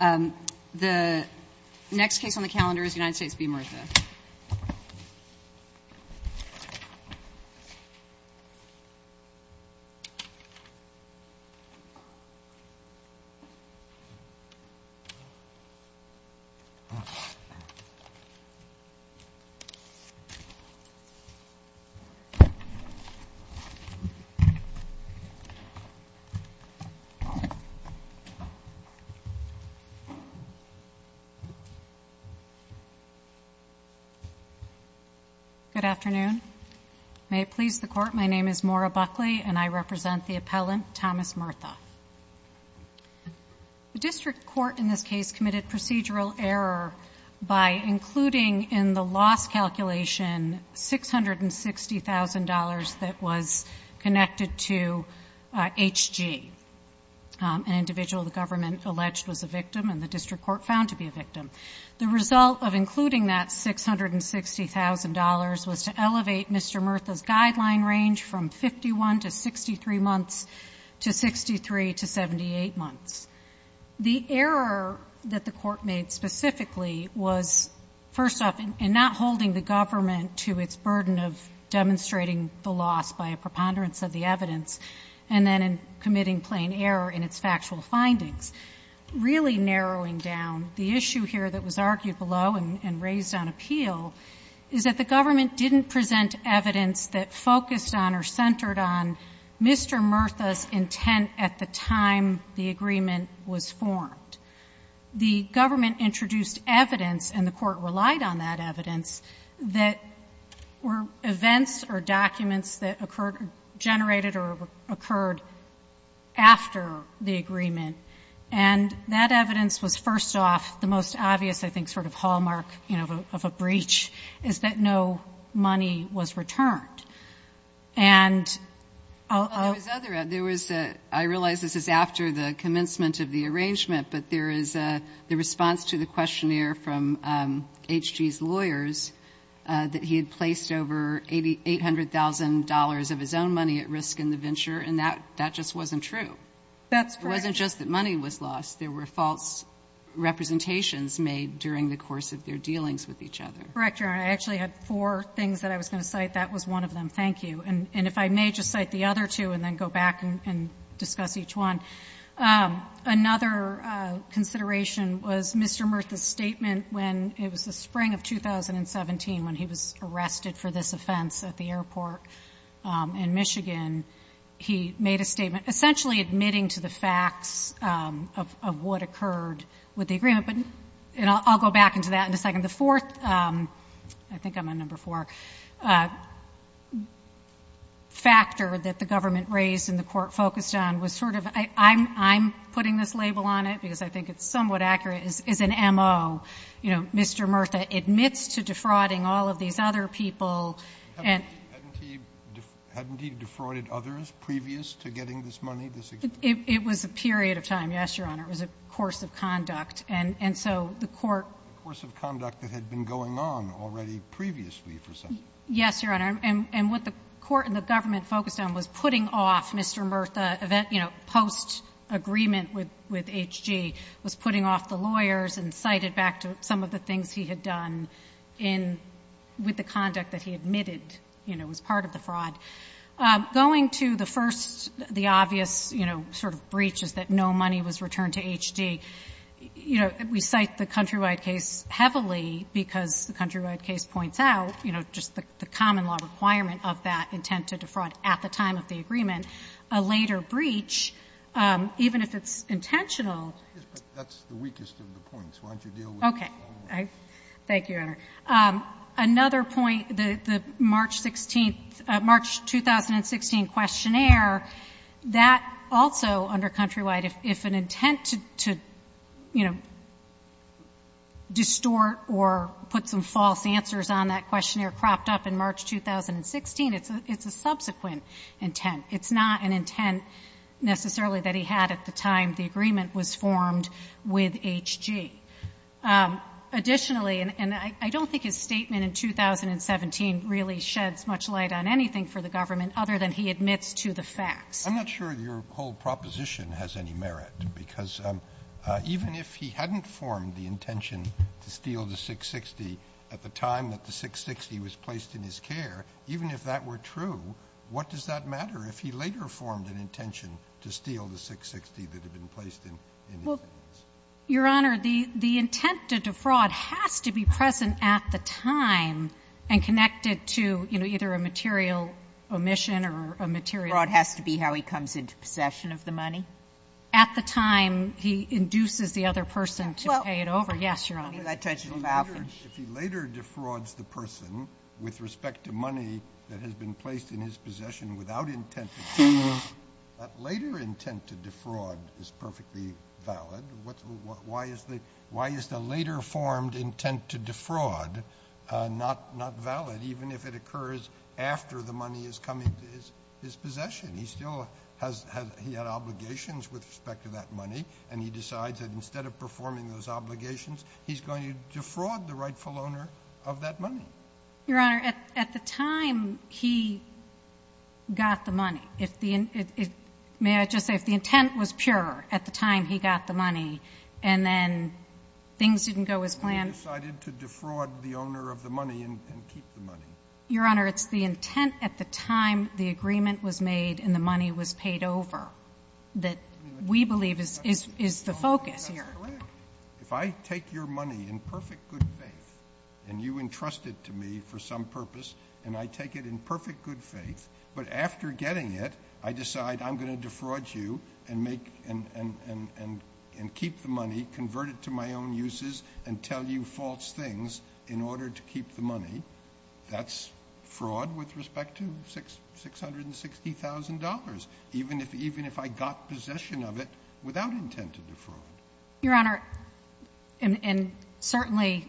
The next case on the calendar is United States v. Murtha. Good afternoon. May it please the court, my name is Maura Buckley and I represent the appellant Thomas Murtha. The district court in this case committed procedural error by including in the loss calculation $660,000 that was connected to HG, an individual the district court found to be a victim. The result of including that $660,000 was to elevate Mr. Murtha's guideline range from 51 to 63 months to 63 to 78 months. The error that the court made specifically was, first off, in not holding the government to its burden of demonstrating the loss by a preponderance of the evidence, and then in committing plain error in its factual findings. Really narrowing down, the issue here that was argued below and raised on appeal is that the government didn't present evidence that focused on or centered on Mr. Murtha's intent at the time the agreement was formed. The government introduced evidence, and the court relied on that evidence, that were events or documents that occurred, generated or occurred after the agreement. And that evidence was, first off, the most obvious, I think, sort of hallmark, you know, of a breach, is that no money was returned. And I'll – Well, there was other – there was a – I realize this is after the commencement of the arrangement, but there is the response to the questionnaire from HG's lawyers that he had placed over $800,000 of his own money at risk in the venture, and that just wasn't true. That's correct. It wasn't just that money was lost. There were false representations made during the course of their dealings with each other. Correct, Your Honor. I actually had four things that I was going to cite. That was one of them. Thank you. And if I may just cite the other two and then go back and discuss each one. Another consideration was Mr. Murtha's statement when – it was the spring of 2017 when he was arrested for this offense at the airport in Michigan. He made a statement essentially admitting to the facts of what occurred with the agreement, but – and I'll go back into that in a second. The fourth – I think I'm on number four – factor that the government raised and the court focused on was sort of – I'm putting this label on it because I think it's somewhat accurate – is an M.O. You know, Mr. Murtha admits to defrauding all of these other people and – Hadn't he – hadn't he defrauded others previous to getting this money, this agreement? It was a period of time, yes, Your Honor. It was a course of conduct. And so the court – A course of conduct that had been going on already previously for some time. Yes, Your Honor. And what the court and the government focused on was putting off Mr. Murtha, you know, post-agreement with H.G., was putting off the lawyers and cited back to some of the things he had done in – with the conduct that he admitted, you know, was part of the fraud. Going to the first – the obvious, you know, sort of breach is that no money was returned to H.G., you know, we cite the Countrywide case heavily because the Countrywide case points out, you know, just the common law requirement of that intent to defraud at the time of the agreement. A later breach, even if it's intentional – Yes, but that's the weakest of the points. Why don't you deal with it? Okay. Thank you, Your Honor. Another point, the March 16th – March 2016 questionnaire, that also under Countrywide, if an intent to, you know, distort or put some false answers on that questionnaire cropped up in March 2016, it's a subsequent intent. It's not an intent necessarily that he had at the time the agreement was formed with H.G. Additionally, and I don't think his statement in 2017 really sheds much light on anything for the government other than he admits to the facts. I'm not sure your whole proposition has any merit, because even if he hadn't formed the intention to steal the 660 at the time that the 660 was placed in his care, even if that were true, what does that matter if he later formed an intention to steal the 660 that had been placed in his hands? Your Honor, the intent to defraud has to be present at the time and connected to, you know, either a material omission or a material – Fraud has to be how he comes into possession of the money? At the time he induces the other person to pay it over? Yes, Your Honor. If he later defrauds the person with respect to money that has been placed in his possession without intent to steal, that later intent to defraud is perfectly valid. Why is the later formed intent to defraud not valid, even if it occurs after the money is coming to his possession? He still has – he had obligations with respect to that money, and he decides that instead of performing those obligations, he's going to defraud the rightful owner of that money. Your Honor, at the time he got the money, if the – may I just say, if the intent was pure at the time he got the money and then things didn't go as planned And he decided to defraud the owner of the money and keep the money? Your Honor, it's the intent at the time the agreement was made and the money was paid over that we believe is the focus here. If I take your money in perfect good faith and you entrust it to me for some purpose and I take it in perfect good faith, but after getting it, I decide I'm going to defraud you and make – and keep the money, convert it to my own uses and tell you false things in order to keep the money. That's fraud with respect to $660,000, even if I got possession of it without intent to defraud. Your Honor, and certainly,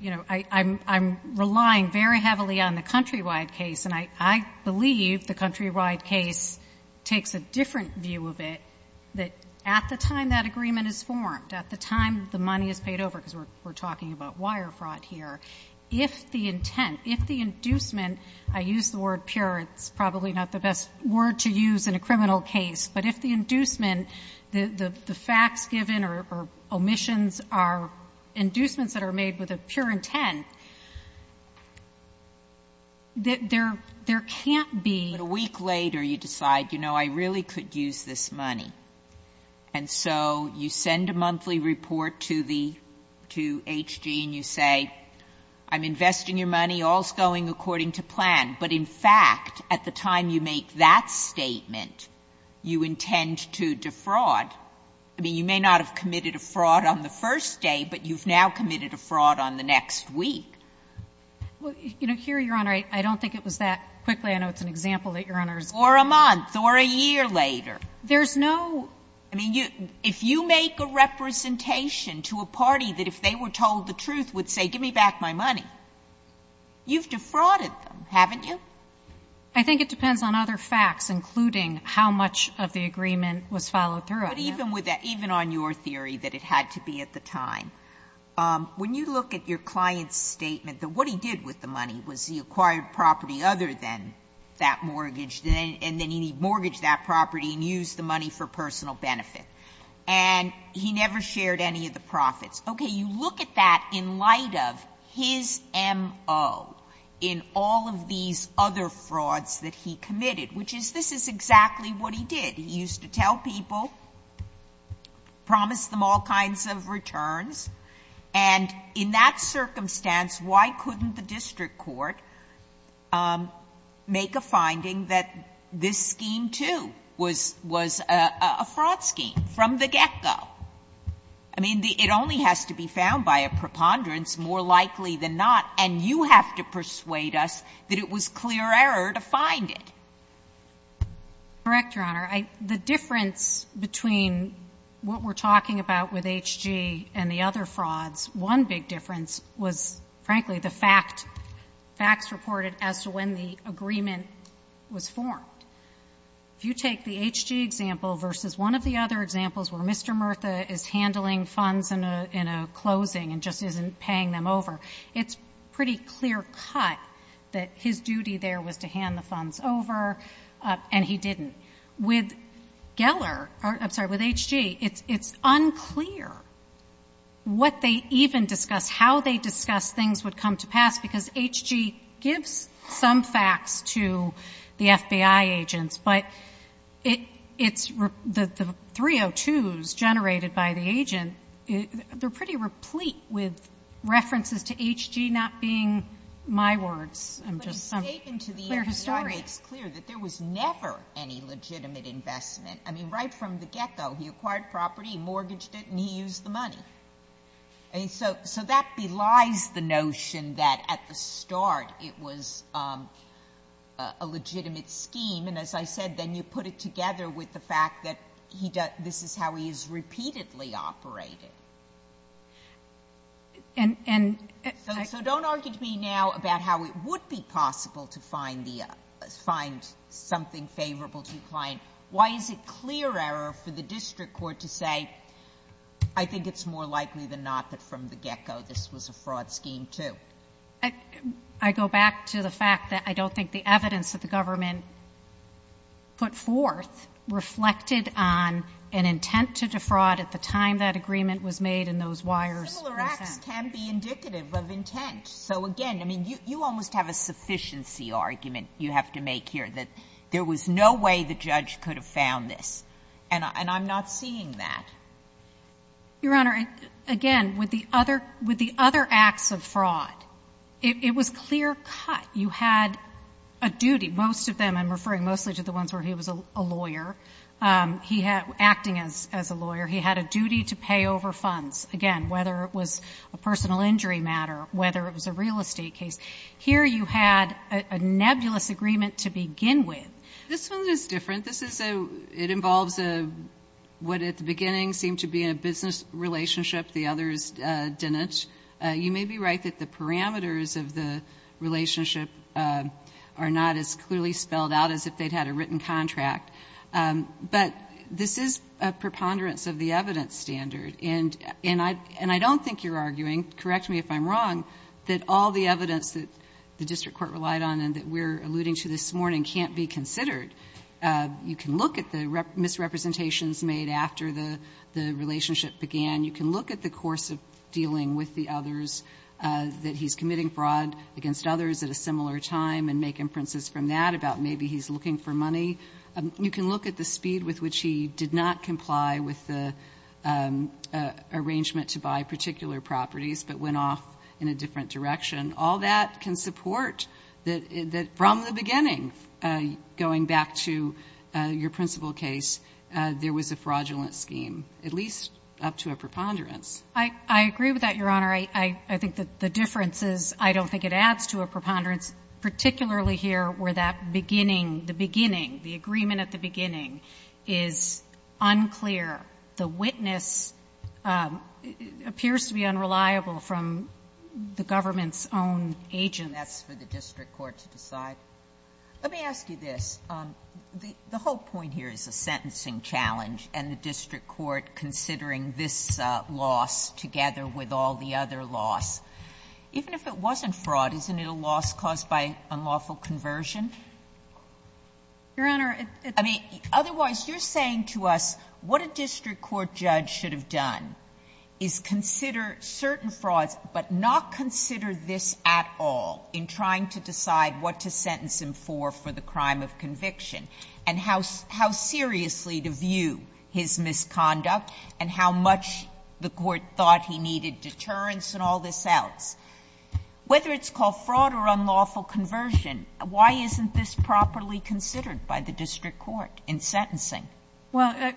you know, I'm relying very heavily on the Countrywide case, and I believe the Countrywide case takes a different view of it, that at the time that agreement is formed, at the time the money is paid over, because we're If the intent, if the inducement, I use the word pure, it's probably not the best word to use in a criminal case, but if the inducement, the facts given or omissions are inducements that are made with a pure intent, there can't be – But a week later you decide, you know, I really could use this money. And so you send a monthly report to the – to H.G. and you say, I'm investing your money, all's going according to plan. But in fact, at the time you make that statement, you intend to defraud. I mean, you may not have committed a fraud on the first day, but you've now committed a fraud on the next week. Well, you know, here, Your Honor, I don't think it was that quickly. I know it's an example that Your Honor's— Or a month or a year later. There's no— I mean, if you make a representation to a party that if they were told the truth would say, give me back my money, you've defrauded them, haven't you? I think it depends on other facts, including how much of the agreement was followed through on them. But even with that, even on your theory that it had to be at the time, when you look at your client's statement, that what he did with the money was he acquired property other than that mortgage, and then he mortgaged that property and used the money for personal benefit. And he never shared any of the profits. Okay. You look at that in light of his MO in all of these other frauds that he committed, which is this is exactly what he did. He used to tell people, promise them all kinds of returns, and in that circumstance, why couldn't the district court make a finding that this scheme, too, was a fraud scheme from the get-go? I mean, it only has to be found by a preponderance, more likely than not. And you have to persuade us that it was clear error to find it. Correct, Your Honor. The difference between what we're talking about with HG and the other frauds, one big difference was, frankly, the facts reported as to when the agreement was formed. If you take the HG example versus one of the other examples where Mr. Murtha is handling funds in a closing and just isn't paying them over, it's a pretty clear cut that his duty there was to hand the funds over, and he didn't. With Geller or, I'm sorry, with HG, it's unclear what they even discussed, how they discussed things would come to pass, because HG gives some facts to the FBI agents, but it's the 302s generated by the agent, they're pretty replete with references to HG not being my words. I'm just some clear historian. It's clear that there was never any legitimate investment. I mean, right from the get-go, he acquired property, mortgaged it, and he used the money. So that belies the notion that at the start it was a legitimate scheme, and as I said, then you put it together with the fact that this is how he has repeatedly operated. So don't argue to me now about how it would be possible to find something favorable to the client. Why is it clear error for the district court to say, I think it's more likely than not that from the get-go this was a fraud scheme, too? I go back to the fact that I don't think the evidence that the government put forth reflected on an intent to defraud at the time that agreement was signed, and I don't think it was made in those wires. Sotomayor, similar acts can be indicative of intent. So, again, I mean, you almost have a sufficiency argument you have to make here, that there was no way the judge could have found this, and I'm not seeing that. Your Honor, again, with the other acts of fraud, it was clear cut. You had a duty. Most of them, I'm referring mostly to the ones where he was a lawyer, acting as a lawyer. He had a duty to pay over funds. Again, whether it was a personal injury matter, whether it was a real estate case. Here you had a nebulous agreement to begin with. This one is different. This is a, it involves a, what at the beginning seemed to be a business relationship. The others didn't. You may be right that the parameters of the relationship are not as clearly spelled out as if they'd had a written contract. But this is a preponderance of the evidence standard. And I don't think you're arguing, correct me if I'm wrong, that all the evidence that the district court relied on and that we're alluding to this morning can't be considered. You can look at the misrepresentations made after the relationship began. You can look at the course of dealing with the others, that he's committing fraud against others at a similar time and make inferences from that about maybe he's looking for money. You can look at the speed with which he did not comply with the arrangement to buy particular properties, but went off in a different direction. All that can support that from the beginning, going back to your principal case, there was a fraudulent scheme, at least up to a preponderance. I agree with that, Your Honor. I think that the difference is I don't think it adds to a preponderance, particularly here where that beginning, the beginning, the agreement at the beginning, is unclear. The witness appears to be unreliable from the government's own agents. And that's for the district court to decide. Let me ask you this. The whole point here is a sentencing challenge and the district court considering this loss together with all the other loss. Even if it wasn't fraud, isn't it a loss caused by unlawful conversion? Your Honor, I mean, otherwise, you're saying to us what a district court judge should have done is consider certain frauds, but not consider this at all in trying to decide what to sentence him for for the crime of conviction and how seriously to view his misconduct and how much the court thought he needed deterrence and all this else. Whether it's called fraud or unlawful conversion, why isn't this properly considered by the district court in sentencing? Well,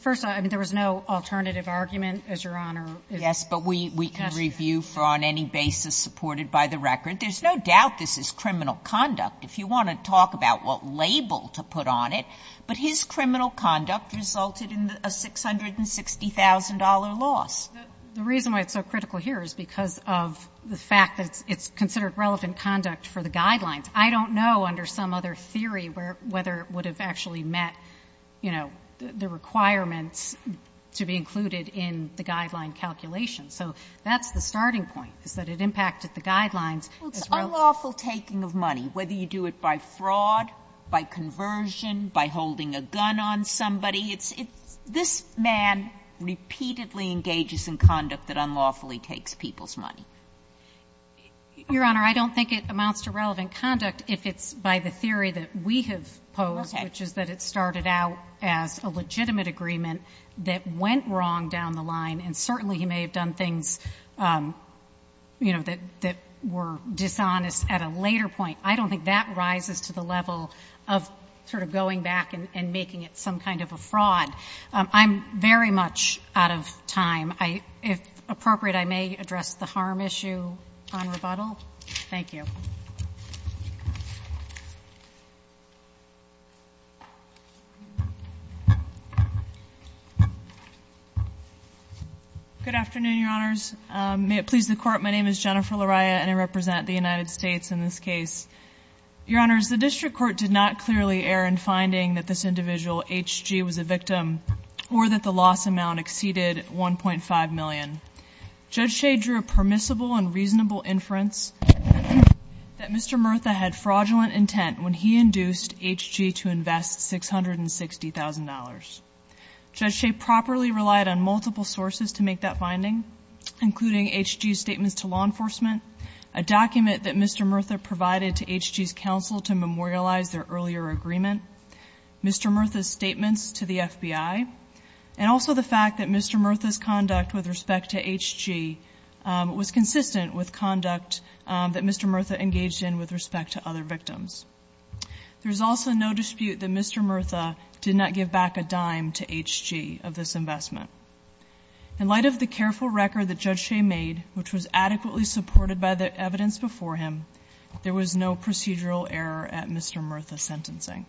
first, I mean, there was no alternative argument, as Your Honor. Yes, but we can review for on any basis supported by the record. There's no doubt this is criminal conduct. If you want to talk about what label to put on it, but his criminal conduct resulted in a $660,000 loss. The reason why it's so critical here is because of the fact that it's considered relevant conduct for the guidelines. I don't know under some other theory whether it would have actually met, you know, the requirements to be included in the guideline calculation. So that's the starting point, is that it impacted the guidelines. It's unlawful taking of money, whether you do it by fraud, by conversion, by holding a gun on somebody. It's this man repeatedly engages in conduct that unlawfully takes people's money. Your Honor, I don't think it amounts to relevant conduct if it's by the theory that we have posed, which is that it started out as a legitimate agreement that went wrong down the line. And certainly he may have done things, you know, that were dishonest at a later point. I don't think that rises to the level of sort of going back and making it some kind of a fraud. I'm very much out of time. I, if appropriate, I may address the harm issue on rebuttal. Thank you. Good afternoon, Your Honors. May it please the Court. My name is Jennifer Lariah, and I represent the United States in this case. Your Honors, the district court did not clearly err in finding that this individual H.G. was a victim or that the loss amount exceeded $1.5 million. Judge Shea drew a permissible and reasonable inference that Mr. Murtha had fraudulent intent when he induced H.G. to invest $660,000. Judge Shea properly relied on multiple sources to make that finding, including H.G.'s statements to law enforcement, a document that Mr. Murtha provided to H.G.'s counsel to memorialize their earlier agreement. Mr. Murtha's statements to the FBI, and also the fact that Mr. Murtha's conduct with respect to H.G. was consistent with conduct that Mr. Murtha engaged in with respect to other victims. There is also no dispute that Mr. Murtha did not give back a dime to H.G. of this investment. In light of the careful record that Judge Shea made, which was adequately supported by the evidence before him, there was no procedural error at Mr. Murtha's sentencing.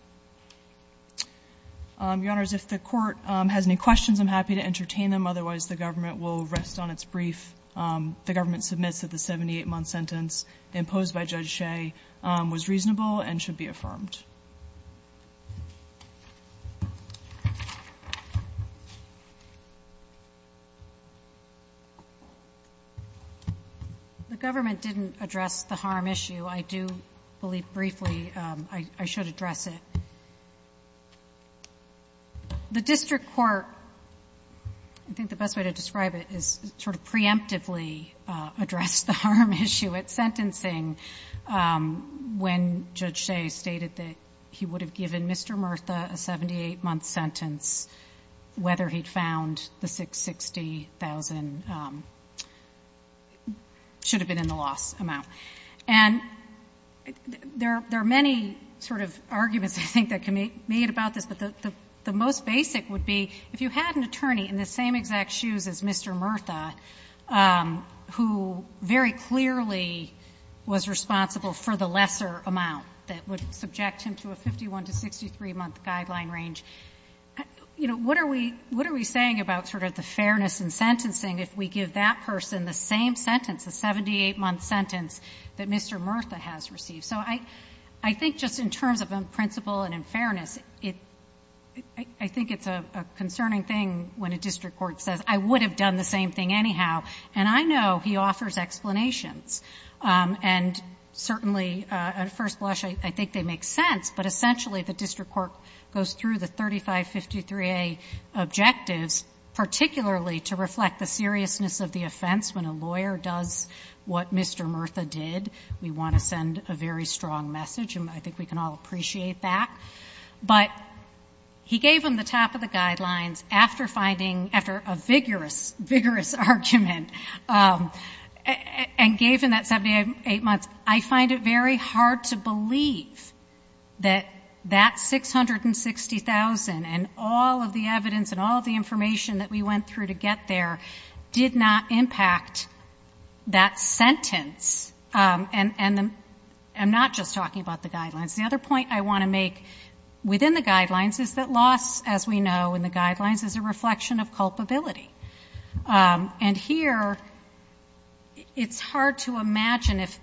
Your Honors, if the Court has any questions, I'm happy to entertain them. Otherwise, the government will rest on its brief. The government submits that the 78-month sentence imposed by Judge Shea was reasonable and should be affirmed. The government didn't address the harm issue. I do believe briefly I should address it. The district court, I think the best way to describe it is sort of preemptively addressed the harm issue at sentencing when Judge Shea stated that he would have given Mr. Murtha a 78-month sentence whether he'd found the $660,000 should have been in the loss amount. And there are many sort of arguments, I think, that can be made about this. But the most basic would be if you had an attorney in the same exact shoes as Mr. Murtha, who very clearly was responsible for the lesser amount that would subject him to a 51- to 63-month guideline range, you know, what are we saying about sort of the fairness in sentencing if we give that person the same sentence, the 78-month sentence that Mr. Murtha has received? So I think just in terms of in principle and in fairness, I think it's a concerning thing when a district court says, I would have done the same thing anyhow. And I know he offers explanations. And certainly, at first blush, I think they make sense. But essentially, the district court goes through the 3553A objectives, particularly to reflect the seriousness of the offense. When a lawyer does what Mr. Murtha did, we want to send a very strong message. And I think we can all appreciate that. But he gave him the top of the guidelines after a vigorous, vigorous argument and gave him that 78 months. I find it very hard to believe that that $660,000 and all of the evidence and all the information that we went through to get there did not impact that sentence. And I'm not just talking about the guidelines. The other point I want to make within the guidelines is that loss, as we know in the guidelines, is a reflection of culpability. And here, it's hard to imagine if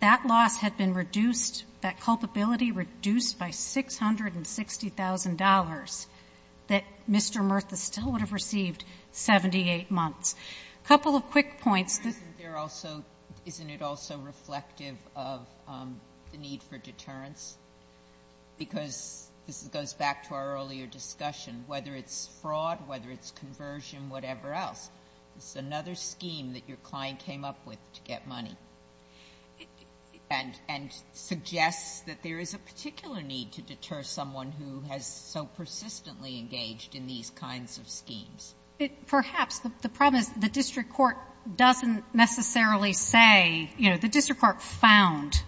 that loss had been reduced, that culpability reduced by $660,000 that Mr. Murtha still would have received 78 months. A couple of quick points. SOTOMAYOR Isn't it also reflective of the need for deterrence? Because this goes back to our earlier discussion. Whether it's fraud, whether it's conversion, whatever else, it's another scheme that your client came up with to get money. And suggests that there is a particular need to deter someone who has so persistently engaged in these kinds of schemes. It perhaps, the problem is the district court doesn't necessarily say, you know, the district court found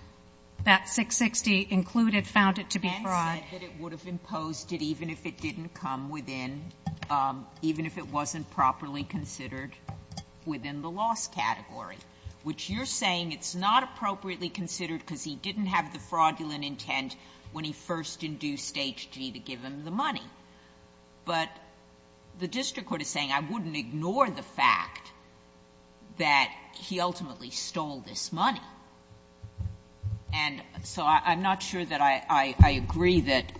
that $660,000 included, found it to be fraud. SOTOMAYOR And said that it would have imposed it even if it didn't come within, even if it wasn't properly considered within the loss category. Which you're saying it's not appropriately considered because he didn't have the fraudulent intent when he first induced HG to give him the money. But the district court is saying I wouldn't ignore the fact that he ultimately stole this money. And so I'm not sure that I agree that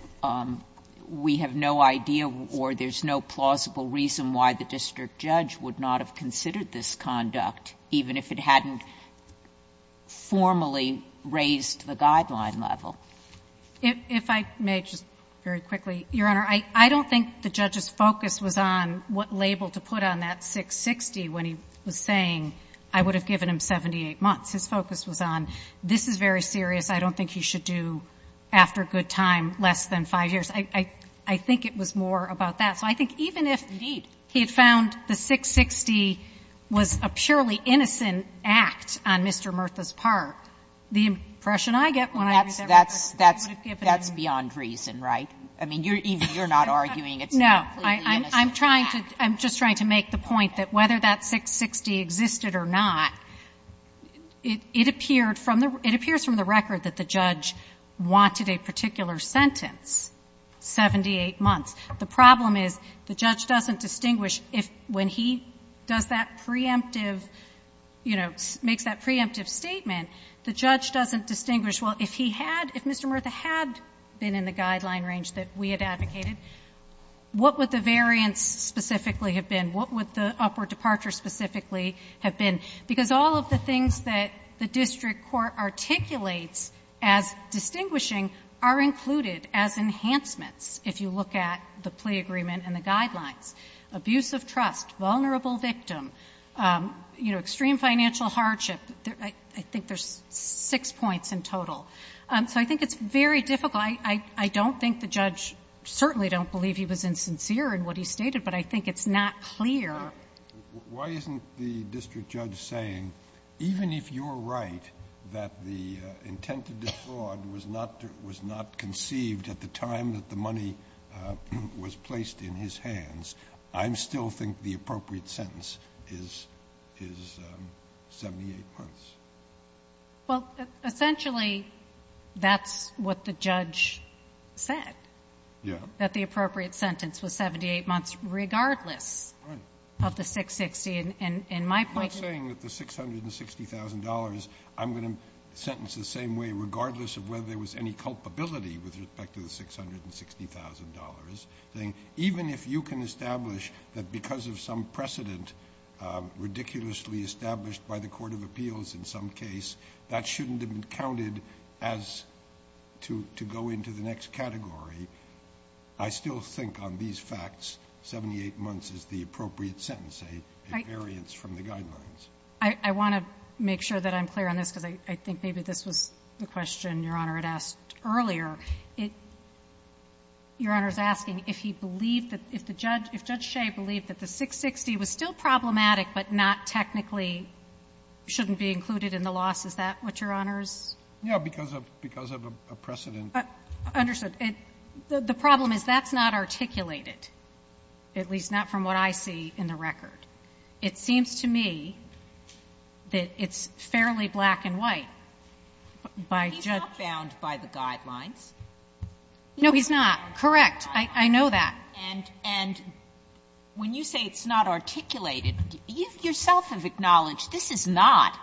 we have no idea or there's no plausible reason why the district judge would not have considered this conduct, even if it hadn't formally raised the guideline level. MS. MCGOWAN If I may, just very quickly, Your Honor, I don't think the judge's focus was on what label to put on that $660,000 when he was saying I would have given him 78 months. His focus was on this is very serious. I don't think he should do after a good time less than 5 years. I think it was more about that. So I think even if he had found the 660 was a purely innocent act on Mr. Murtha's part, the impression I get when I read that record is he would have given him. Sotomayor That's beyond reason, right? I mean, you're not arguing it's completely innocent. MS. MCGOWAN No. I'm trying to – I'm just trying to make the point that whether that 660 existed or not, it appeared from the – it appears from the record that the judge wanted a particular sentence, 78 months. The problem is the judge doesn't distinguish if when he does that preemptive, you know, makes that preemptive statement, the judge doesn't distinguish, well, if he had – if Mr. Murtha had been in the guideline range that we had advocated, what would the variance specifically have been? What would the upward departure specifically have been? Because all of the things that the district court articulates as distinguishing are included as enhancements if you look at the plea agreement and the guidelines. Abuse of trust, vulnerable victim, you know, extreme financial hardship, I think there's six points in total. So I think it's very difficult. I don't think the judge – certainly don't believe he was insincere in what he stated, but I think it's not clear. JUSTICE SCALIA Why isn't the district judge saying, even if you're right that the intent to defraud was not – was not conceived at the time that the money was placed in his hands, I still think the appropriate sentence is 78 months? MS. GOTTLIEB Well, essentially, that's what the judge said. JUSTICE SCALIA Yeah. MS. GOTTLIEB That the appropriate sentence was 78 months regardless of the 660. And my point is – JUSTICE SCALIA I'm not saying that the $660,000, I'm going to sentence the same way, regardless of whether there was any culpability with respect to the $660,000. Even if you can establish that because of some precedent, ridiculously established by the court of appeals in some case, that shouldn't have been counted as to go into the next category, I still think on these facts, 78 months is the appropriate sentence. It's a variance from the guidelines. MS. GOTTLIEB I want to make sure that I'm clear on this, because I think maybe this was the question Your Honor had asked earlier. Your Honor's asking if he believed that – if the judge – if Judge Shea believed that the 660 was still problematic but not technically shouldn't be included in the loss, is that what Your Honor's? JUSTICE SCALIA Yeah, because of – because of a precedent. MS. GOTTLIEB Understood. The problem is that's not articulated, at least not from what I see in the record. It seems to me that it's fairly black and white. JUSTICE SOTOMAYOR He's not bound by the guidelines. MS. GOTTLIEB No, he's not. I know that. JUSTICE SOTOMAYOR And when you say it's not articulated, you yourself have acknowledged this is not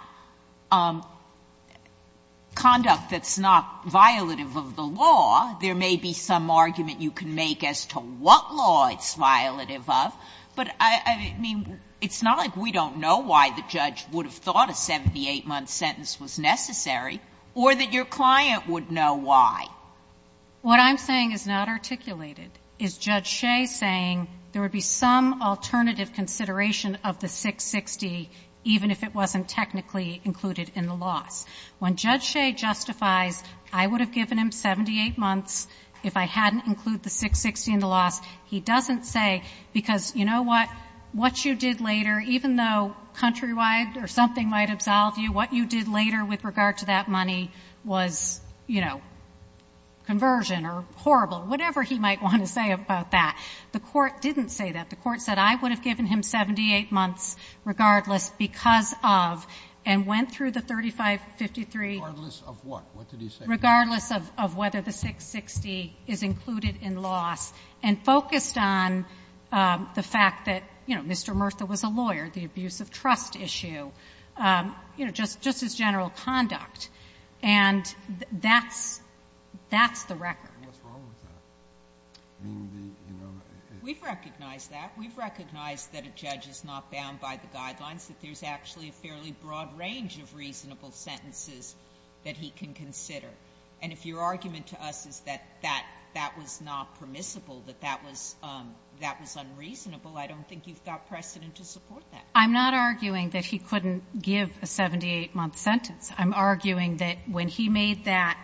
conduct that's not violative of the law. There may be some argument you can make as to what law it's violative of. But, I mean, it's not like we don't know why the judge would have thought a 78-month sentence was necessary or that your client would know why. MS. GOTTLIEB What I'm saying is not articulated. It's Judge Shea saying there would be some alternative consideration of the 660, even if it wasn't technically included in the loss. When Judge Shea justifies, I would have given him 78 months if I hadn't included the 660 in the loss, he doesn't say because, you know what, what you did later, even though countrywide or something might absolve you, what you did later with regard to that money was, you know, conversion or horrible, whatever he might want to say about that. The Court didn't say that. The Court said I would have given him 78 months regardless because of and went through the 3553. JUSTICE SOTOMAYOR Regardless of what? What did he say? MS. GOTTLIEB Regardless of whether the 660 is included in loss and focused on the fact that, you know, Mr. Murtha was a lawyer, the abuse of trust issue, you know, just his general conduct. And that's the record. JUSTICE SOTOMAYOR What's wrong with that? I mean, the, you know, the — MS. GOTTLIEB We've recognized that. We've recognized that a judge is not bound by the guidelines, that there's actually a fairly broad range of reasonable sentences that he can consider. And if your argument to us is that that was not permissible, that that was unreasonable, I don't think you've got precedent to support that. MS. GOTTLIEB I'm not arguing that he couldn't give a 78-month sentence. I'm arguing that when he made that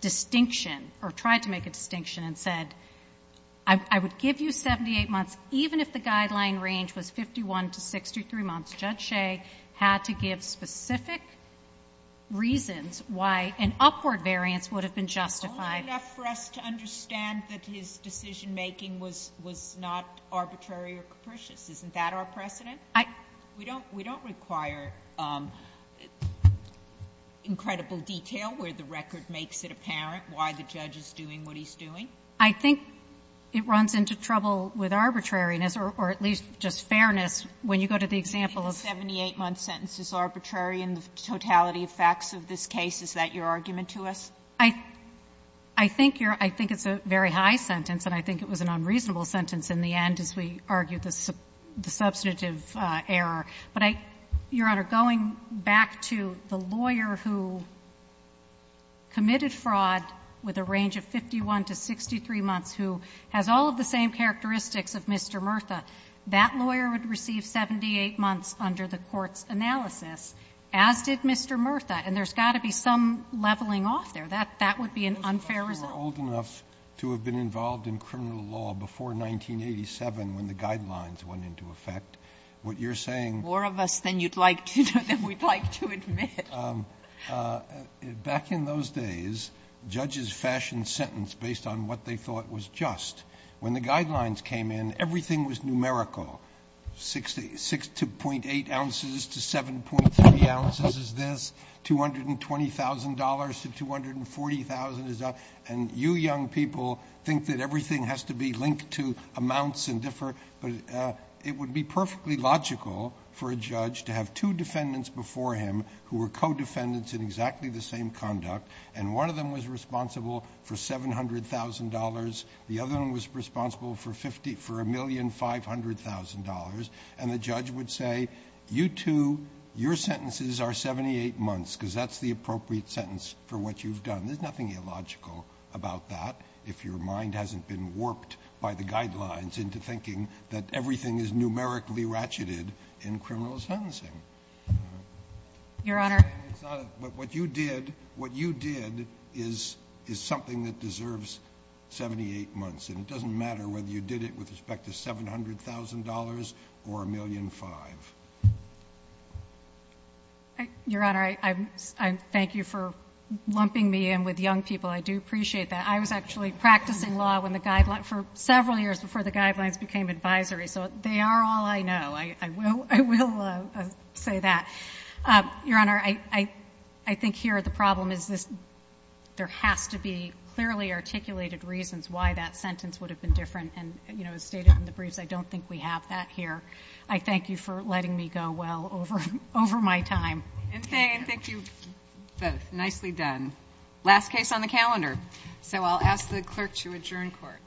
distinction or tried to make a distinction and said, I would give you 78 months even if the guideline range was 51 to 63 months, Judge Shea had to give specific reasons why an upward variance would have been justified. JUSTICE SOTOMAYOR Only enough for us to understand that his decision-making was — was not arbitrary or capricious. Isn't that our precedent? MS. GOTTLIEB I — JUSTICE SOTOMAYOR We don't — we don't require incredible detail where the record makes it apparent why the judge is doing what he's doing. MS. GOTTLIEB I think it runs into trouble with arbitrariness or at least just fairness when you go to the example of — Sotomayor You're saying the 78-month sentence is arbitrary in the totality of facts of this case. Is that your argument to us? MS. GOTTLIEB I think your — I think it's a very high sentence, and I think it was an unreasonable sentence in the end as we argue the substantive error. But I — Your Honor, going back to the lawyer who committed fraud with a range of 51 to 63 months who has all of the same characteristics of Mr. Murtha, that lawyer would receive 78 months under the court's analysis, as did Mr. Murtha. And there's got to be some leveling off there. That — that would be an unfair result. JUSTICE SCALIA You're old enough to have been involved in criminal law before 1987 when the Guidelines went into effect. What you're saying — MS. GOTTLIEB More of us than you'd like to — than we'd like to admit. JUSTICE SCALIA Back in those days, judges fashioned sentence based on what they thought was just. When the Guidelines came in, everything was numerical. Six to .8 ounces to 7.3 ounces is this, $220,000 to $240,000 is that. And you young people think that everything has to be linked to amounts and differ. But it would be perfectly logical for a judge to have two defendants before him who were co-defendants in exactly the same conduct, and one of them was responsible for $700,000. The other one was responsible for $1,500,000. And the judge would say, you two, your sentences are 78 months because that's the appropriate sentence for what you've done. There's nothing illogical about that if your mind hasn't been warped by the Guidelines into thinking that everything is numerically ratcheted in criminal sentencing. MS. GOTTLIEB Your Honor — Your Honor, I thank you for lumping me in with young people. I do appreciate that. I was actually practicing law for several years before the Guidelines became advisory. So they are all I know. I will say that. Your Honor, I think here the problem is there has to be clearly articulated reasons for why the Guidelines were not used. I don't think we have that here. I thank you for letting me go well over my time. MS. GOTTLIEB And thank you both. Nicely done. Last case on the calendar. So I'll ask the clerk to adjourn court. Court is adjourned.